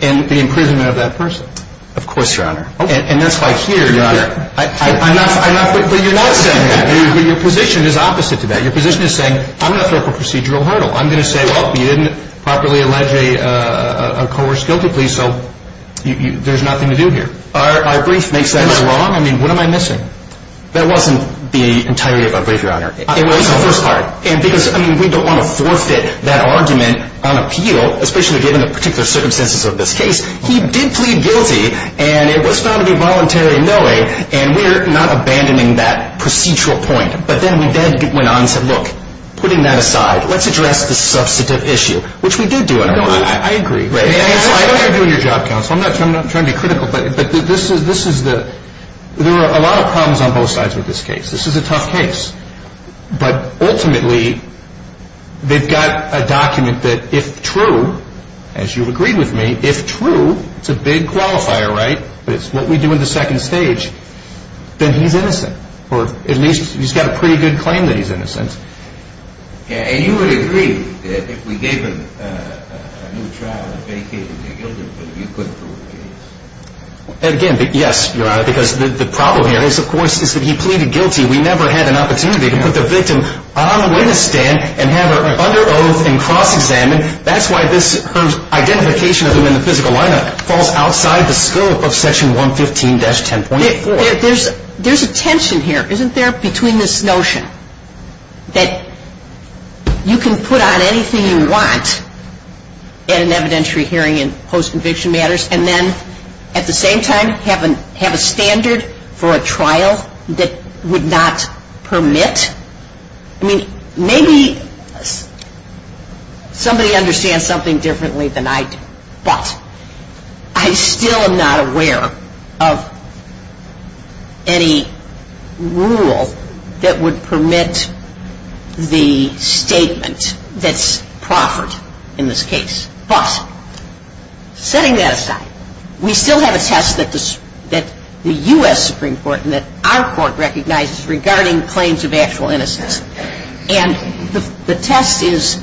the imprisonment of that person. Of course, Your Honor. Okay. And that's why here, Your Honor, I'm not saying that. But you're not saying that. Your position is opposite to that. Your position is saying, I'm going to throw up a procedural hurdle. I'm going to say, well, you didn't properly allege a coerced guilty plea, so there's nothing to do here. Our brief makes sense. Am I wrong? I mean, what am I missing? That wasn't the entirety of our brief, Your Honor. It was the first part. And because, I mean, we don't want to forfeit that argument on appeal, especially given the particular circumstances of this case. He did plead guilty, and it was found to be voluntary in no way, and we're not abandoning that procedural point. But then we then went on and said, look, putting that aside, let's address the substantive issue, which we do do, Your Honor. No, I agree. I don't care if you're doing your job, counsel. I'm not trying to be critical. But this is the – there are a lot of problems on both sides with this case. This is a tough case. But ultimately, they've got a document that if true, as you've agreed with me, if true, it's a big qualifier, right, but it's what we do in the second stage, then he's innocent. Or at least he's got a pretty good claim that he's innocent. And you would agree that if we gave him a new trial, a vacated guilty plea, you couldn't prove the case? Again, yes, Your Honor, because the problem here is, of course, is that he pleaded guilty. We never had an opportunity to put the victim on a witness stand and have her under oath and cross-examined. That's why this identification of him in the physical lineup falls outside the scope of Section 115-10.4. There's a tension here, isn't there, between this notion that you can put on anything you want in an evidentiary hearing and post-conviction matters, and then at the same time have a standard for a trial that would not permit? I mean, maybe somebody understands something differently than I do, but I still am not aware of any rule that would permit the statement that's proffered in this case. But setting that aside, we still have a test that the U.S. Supreme Court and that our court recognizes regarding claims of actual innocence. And the test is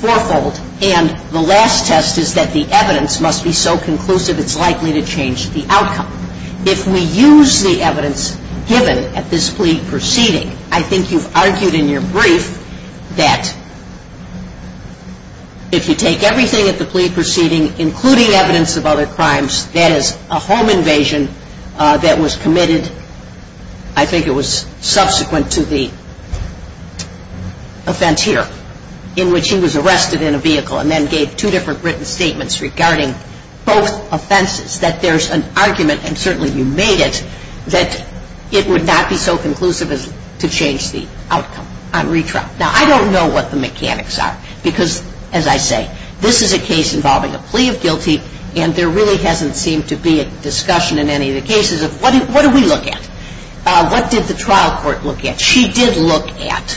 fourfold. And the last test is that the evidence must be so conclusive it's likely to change the outcome. If we use the evidence given at this plea proceeding, I think you've argued in your brief that if you take everything at the plea proceeding, including evidence of other crimes, that is a home invasion that was committed, I think it was subsequent to the offense here, in which he was arrested in a vehicle and then gave two different written statements regarding both offenses, that there's an argument, and certainly you made it, that it would not be so conclusive to change the outcome on retrial. Now, I don't know what the mechanics are because, as I say, this is a case involving a plea of guilty and there really hasn't seemed to be a discussion in any of the cases of what do we look at? What did the trial court look at? She did look at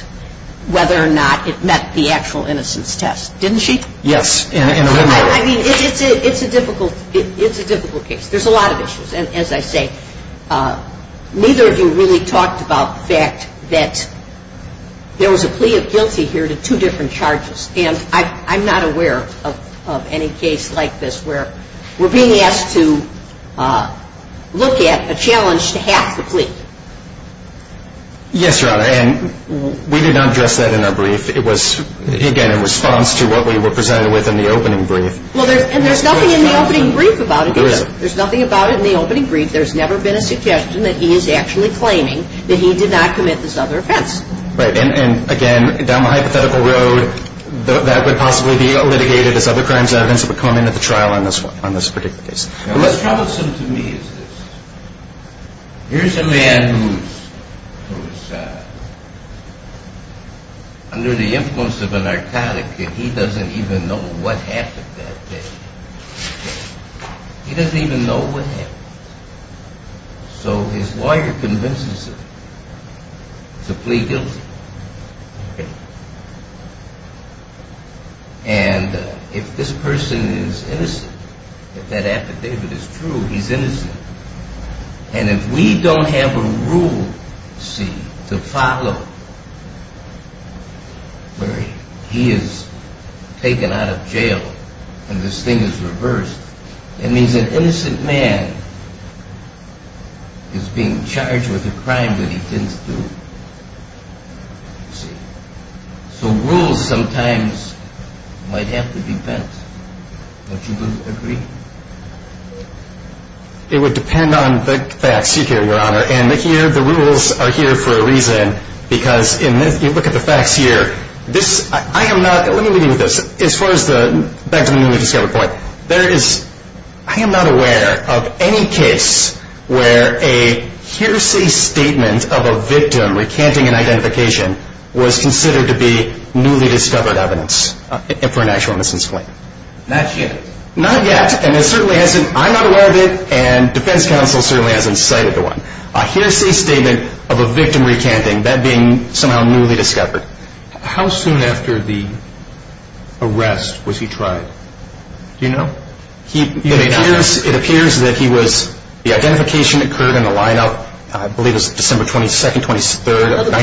whether or not it met the actual innocence test, didn't she? Yes. I mean, it's a difficult case. There's a lot of issues. As I say, neither of you really talked about the fact that there was a plea of guilty here to two different charges, and I'm not aware of any case like this where we're being asked to look at a challenge to half the plea. Yes, Your Honor, and we did not address that in our brief. It was, again, in response to what we were presented with in the opening brief. And there's nothing in the opening brief about it. There isn't. There's nothing about it in the opening brief. There's never been a suggestion that he is actually claiming that he did not commit this other offense. Right. And, again, down the hypothetical road, that would possibly be litigated as other crimes and evidence that would come in at the trial on this particular case. Now, what's troublesome to me is this. Here's a man who was under the influence of a narcotic, and he doesn't even know what happened that day. He doesn't even know what happened. So his lawyer convinces him to plea guilty, and if this person is innocent, if that affidavit is true, he's innocent. And if we don't have a rule, you see, to follow where he is taken out of jail and this thing is reversed, it means an innocent man is being charged with a crime that he didn't do, you see. So rules sometimes might have to be bent. Don't you agree? It would depend on the facts you hear, Your Honor, and here the rules are here for a reason, because if you look at the facts here, this, I am not, let me leave you with this. As far as the newly discovered point, there is, I am not aware of any case where a hearsay statement of a victim recanting an identification was considered to be newly discovered evidence for an actual innocence claim. Not yet. Not yet. And it certainly hasn't, I am not aware of it, and defense counsel certainly hasn't cited the one. A hearsay statement of a victim recanting, that being somehow newly discovered. How soon after the arrest was he tried? Do you know? It appears that he was, the identification occurred in the lineup, I believe it was December 22nd, 23rd of 1989.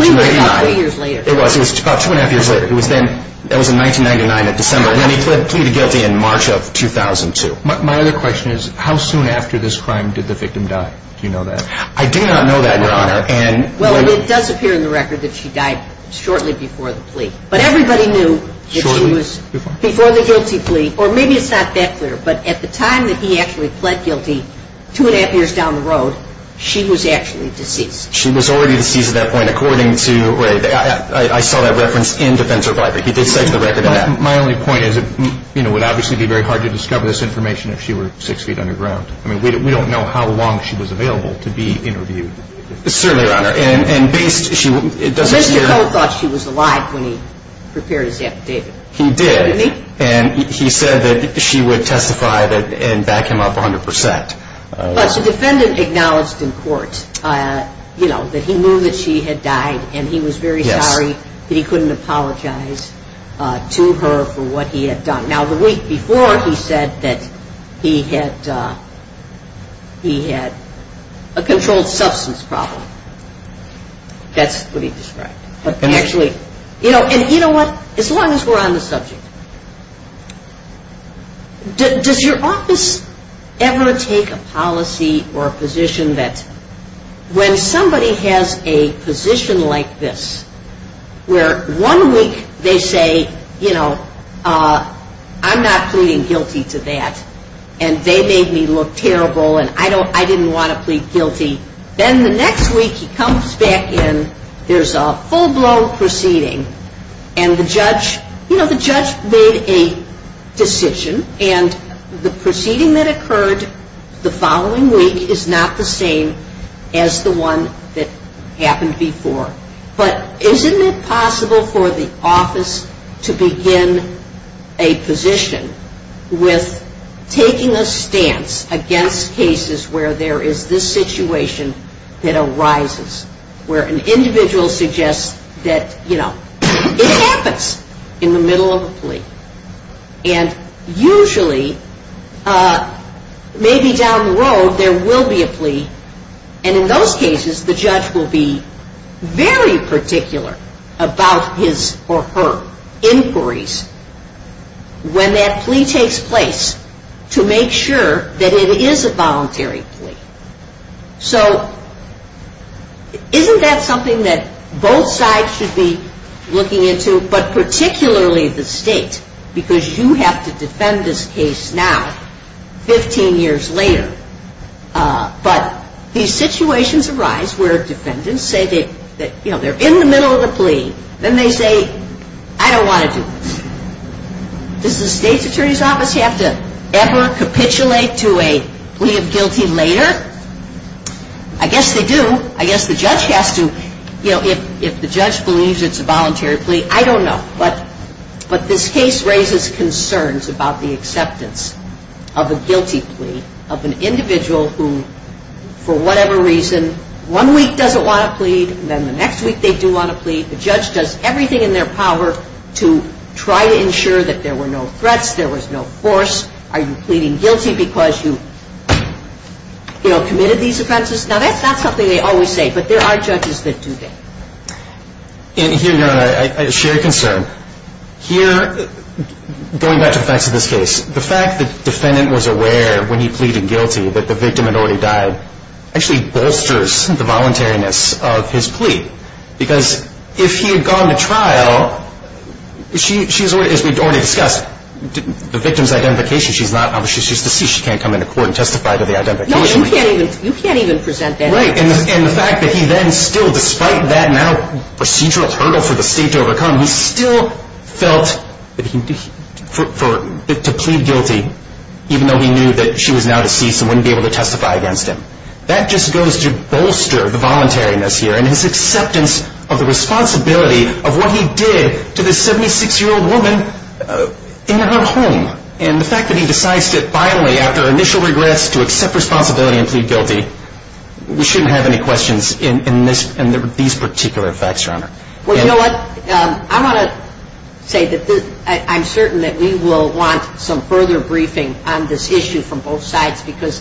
It was, it was about two and a half years later. It was then, it was in 1999 in December, and he pleaded guilty in March of 2002. My other question is, how soon after this crime did the victim die? Do you know that? I do not know that, Your Honor. Well, it does appear in the record that she died shortly before the plea. But everybody knew that she was, before the guilty plea, or maybe it's not that clear, but at the time that he actually pled guilty, two and a half years down the road, she was actually deceased. She was already deceased at that point, according to, right, I saw that reference in Defendant Survivor. He did cite the record of that. My only point is, you know, it would obviously be very hard to discover this information if she were six feet underground. I mean, we don't know how long she was available to be interviewed. Certainly, Your Honor. And based, she, it doesn't. Mr. Coe thought she was alive when he prepared his affidavit. He did. And he said that she would testify and back him up 100%. But the defendant acknowledged in court, you know, that he knew that she had died and he was very sorry that he couldn't apologize to her for what he had done. Now, the week before, he said that he had a controlled substance problem. That's what he described. Actually, you know, and you know what, as long as we're on the subject, does your office ever take a policy or a position that when somebody has a position like this where one week they say, you know, I'm not pleading guilty to that and they made me look terrible and I didn't want to plead guilty, then the next week he comes back in, there's a full-blown proceeding and the judge, you know, the judge made a decision and the proceeding that occurred the following week is not the same as the one that happened before. But isn't it possible for the office to begin a position with taking a stance against cases where there is this situation that arises, where an individual suggests that, you know, it happens in the middle of a plea and usually maybe down the road there will be a plea and in those cases the judge will be very particular about his or her inquiries when that plea takes place to make sure that it is a voluntary plea. So isn't that something that both sides should be looking into, but particularly the state because you have to defend this case now 15 years later. But these situations arise where defendants say that, you know, they're in the middle of the plea and they say, I don't want to do this. Does the state's attorney's office have to ever capitulate to a plea of guilty later? I guess they do. I guess the judge has to, you know, if the judge believes it's a voluntary plea, I don't know. But this case raises concerns about the acceptance of a guilty plea, of an individual who for whatever reason one week doesn't want to plead and then the next week they do want to plead. The judge does everything in their power to try to ensure that there were no threats, there was no force. Are you pleading guilty because you, you know, committed these offenses? Now that's not something they always say, but there are judges that do that. And here, Your Honor, I share your concern. Here, going back to the facts of this case, the fact that the defendant was aware when he pleaded guilty that the victim had already died actually bolsters the voluntariness of his plea because if he had gone to trial, she's already, as we've already discussed, the victim's identification, she's not, she's deceased, she can't come into court and testify to the identification. No, you can't even present that evidence. Right. And the fact that he then still, despite that now procedural hurdle for the state to overcome, he still felt that he, for, to plead guilty, even though he knew that she was now deceased and wouldn't be able to testify against him. That just goes to bolster the voluntariness here. And his acceptance of the responsibility of what he did to this 76-year-old woman in her home. And the fact that he decides to finally, after initial regrets, to accept responsibility and plead guilty, we shouldn't have any questions in these particular facts, Your Honor. Well, you know what? I want to say that I'm certain that we will want some further briefing on this issue from both sides because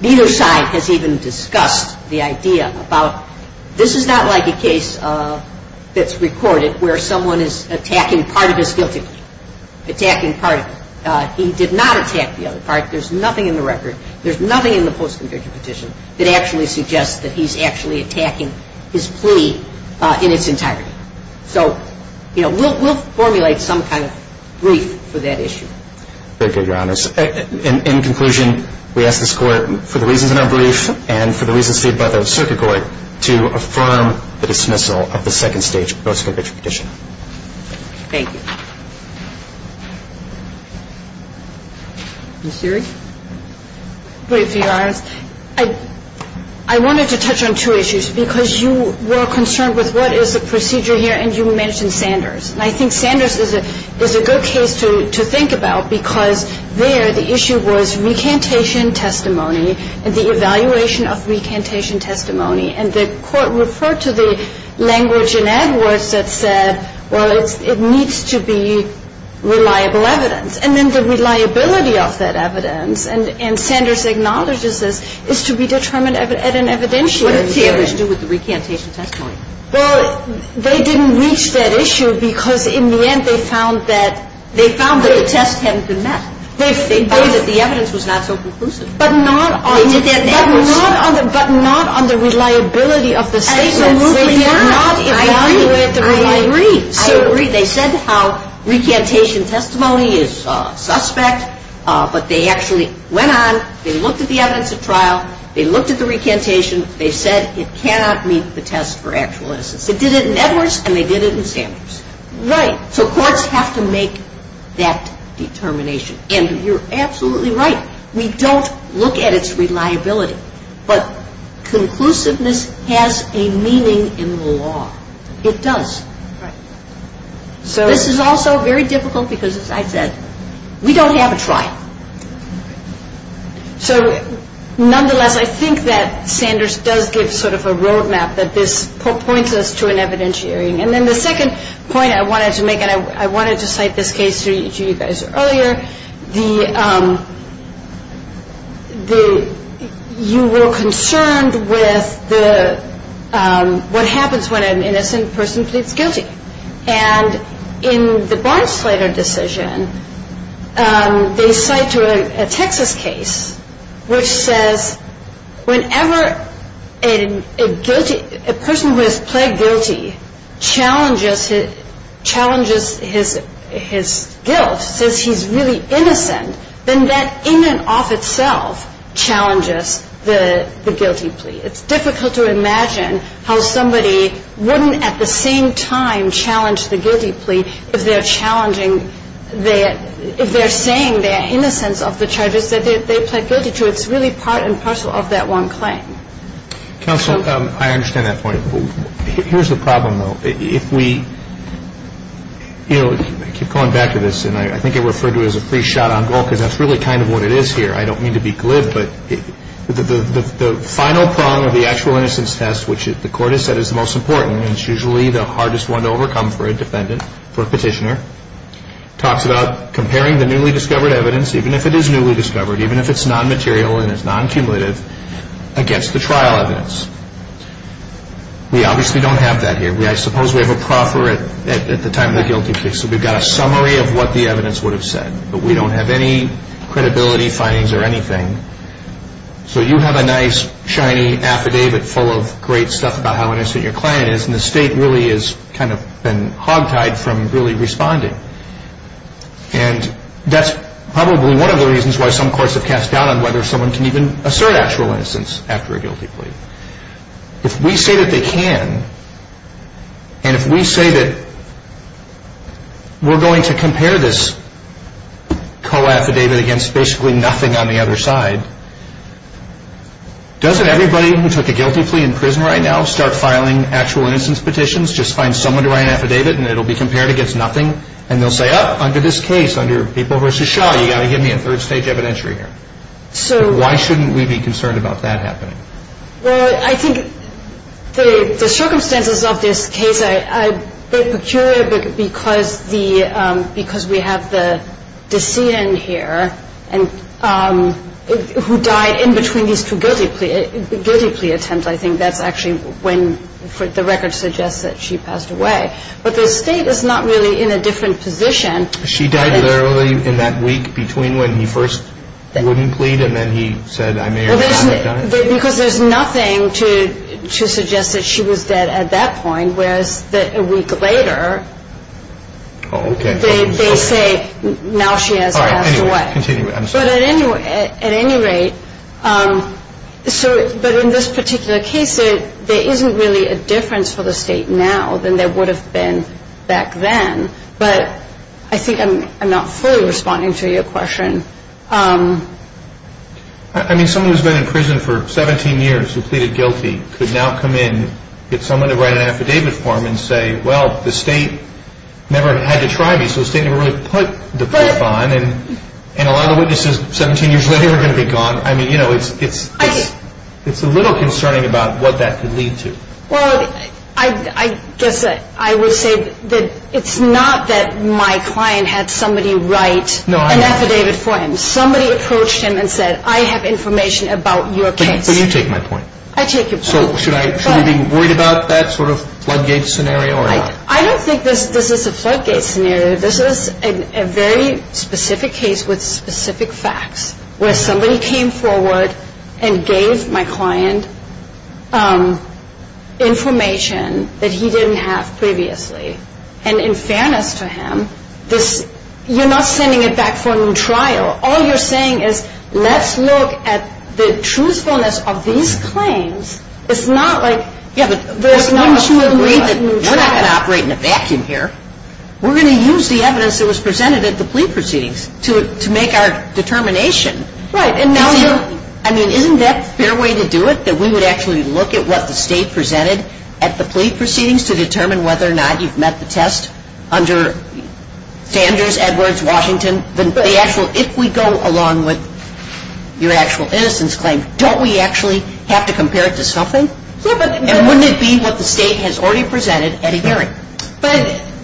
neither side has even discussed the idea about, this is not like a case that's recorded where someone is attacking part of his guilty plea, attacking part of it. He did not attack the other part. There's nothing in the record. There's nothing in the post-conviction petition that actually suggests that he's actually attacking his plea in its entirety. So, you know, we'll formulate some kind of brief for that issue. Thank you, Your Honors. In conclusion, we ask this Court, for the reasons in our brief and for the reasons stated by the Circuit Court, to affirm the dismissal of the second stage post-conviction petition. Thank you. Ms. Seery? Brief, Your Honors. I wanted to touch on two issues because you were concerned with what is the procedure here and you mentioned Sanders. And I think Sanders is a good case to think about because there the issue was recantation testimony and the evaluation of recantation testimony. And the Court referred to the language in Edwards that said, well, it needs to be reliable evidence. And then the reliability of that evidence, and Sanders acknowledges this, is to be determined at an evidentiary. What did Sanders do with the recantation testimony? Well, they didn't reach that issue because, in the end, they found that the test hadn't been met. They found that the evidence was not so conclusive. But not on the reliability of the statement. Absolutely not. They did not evaluate the reliability. I agree. They said how recantation testimony is suspect, but they actually went on, they looked at the evidence at trial, they looked at the recantation, they said it cannot meet the test for actual innocence. They did it in Edwards and they did it in Sanders. Right. So courts have to make that determination. And you're absolutely right. We don't look at its reliability. But conclusiveness has a meaning in the law. It does. Right. This is also very difficult because, as I said, we don't have a trial. So, nonetheless, I think that Sanders does give sort of a road map that this points us to an evidentiary. And then the second point I wanted to make, and I wanted to cite this case to you guys earlier, you were concerned with what happens when an innocent person pleads guilty. And in the Barnsleder decision, they cite a Texas case which says whenever a person who has pled guilty challenges his guilt, says he's really innocent, then that in and of itself challenges the guilty plea. It's difficult to imagine how somebody wouldn't at the same time challenge the guilty plea if they're saying they're innocent of the charges that they pled guilty to. It's really part and parcel of that one claim. Counsel, I understand that point. Here's the problem, though. If we, you know, keep going back to this, and I think it referred to as a free shot on goal because that's really kind of what it is here. I don't mean to be glib. But the final prong of the actual innocence test, which the court has said is the most important and it's usually the hardest one to overcome for a petitioner, talks about comparing the newly discovered evidence, even if it is newly discovered, even if it's non-material and it's non-cumulative, against the trial evidence. We obviously don't have that here. I suppose we have a proffer at the time of the guilty plea. So we've got a summary of what the evidence would have said. But we don't have any credibility findings or anything. So you have a nice, shiny affidavit full of great stuff about how innocent your client is, and the state really has kind of been hogtied from really responding. And that's probably one of the reasons why some courts have cast doubt on whether someone can even assert actual innocence after a guilty plea. If we say that they can, and if we say that we're going to compare this co-affidavit against basically nothing on the other side, doesn't everybody who took a guilty plea in prison right now start filing actual innocence petitions? Just find someone to write an affidavit and it will be compared against nothing? And they'll say, oh, under this case, under Papal versus Shaw, you've got to give me a third stage evidentiary here. Why shouldn't we be concerned about that happening? Well, I think the circumstances of this case are peculiar because we have the decedent here who died in between these two guilty plea attempts. I think that's actually when the record suggests that she passed away. But the state is not really in a different position. She died earlier in that week between when he first wouldn't plead and then he said, I may or may not have done it? Because there's nothing to suggest that she was dead at that point, whereas a week later they say, now she has passed away. But at any rate, but in this particular case, there isn't really a difference for the state now than there would have been back then. But I think I'm not fully responding to your question. I mean, someone who's been in prison for 17 years who pleaded guilty could now come in, get someone to write an affidavit for him and say, well, the state never had to try me, so the state never really put the clip on. And a lot of the witnesses 17 years later are going to be gone. I mean, you know, it's a little concerning about what that could lead to. Well, I guess I would say that it's not that my client had somebody write an affidavit for him. Somebody approached him and said, I have information about your case. But you take my point. I take your point. So should I be worried about that sort of floodgate scenario? I don't think this is a floodgate scenario. This is a very specific case with specific facts where somebody came forward and gave my client information that he didn't have previously. And in fairness to him, you're not sending it back for a new trial. All you're saying is let's look at the truthfulness of these claims. It's not like there's not a floodgate trial. We're not going to operate in a vacuum here. We're going to use the evidence that was presented at the plea proceedings to make our determination. Right. I mean, isn't that the fair way to do it, that we would actually look at what the state presented at the plea proceedings to determine whether or not you've met the test under Sanders, Edwards, Washington? If we go along with your actual innocence claim, don't we actually have to compare it to something? And wouldn't it be what the state has already presented at a hearing?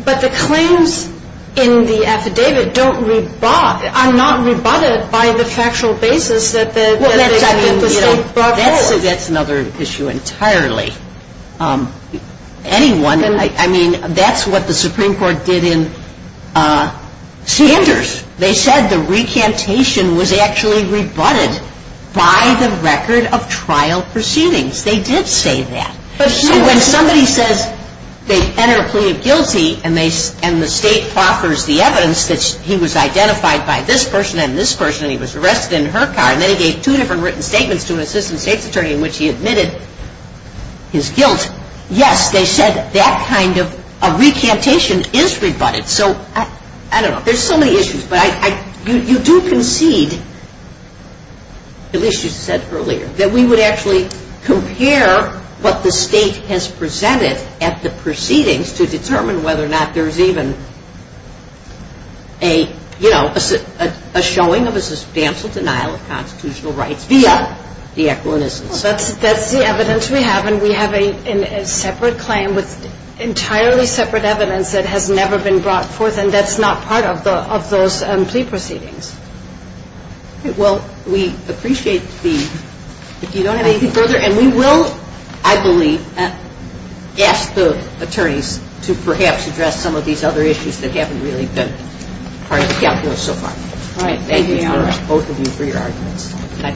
But the claims in the affidavit are not rebutted by the factual basis that the state brought forth. That's another issue entirely. Anyone, I mean, that's what the Supreme Court did in Sanders. They said the recantation was actually rebutted by the record of trial proceedings. They did say that. So when somebody says they've entered a plea of guilty and the state offers the evidence that he was identified by this person and this person and he was arrested in her car and then he gave two different written statements to an assistant state's attorney in which he admitted his guilt, yes, they said that kind of recantation is rebutted. So I don't know. There's so many issues. But you do concede, at least you said earlier, that we would actually compare what the state has presented at the proceedings to determine whether or not there's even a, you know, a showing of a substantial denial of constitutional rights via the equitable innocence claim. That's the evidence we have. And we have a separate claim with entirely separate evidence that has never been brought forth. And that's not part of those plea proceedings. Well, we appreciate the, if you don't have anything further, and we will, I believe, ask the attorneys to perhaps address some of these other issues that haven't really been part of the calculus so far. All right. Thank you, both of you, for your arguments. Thank you.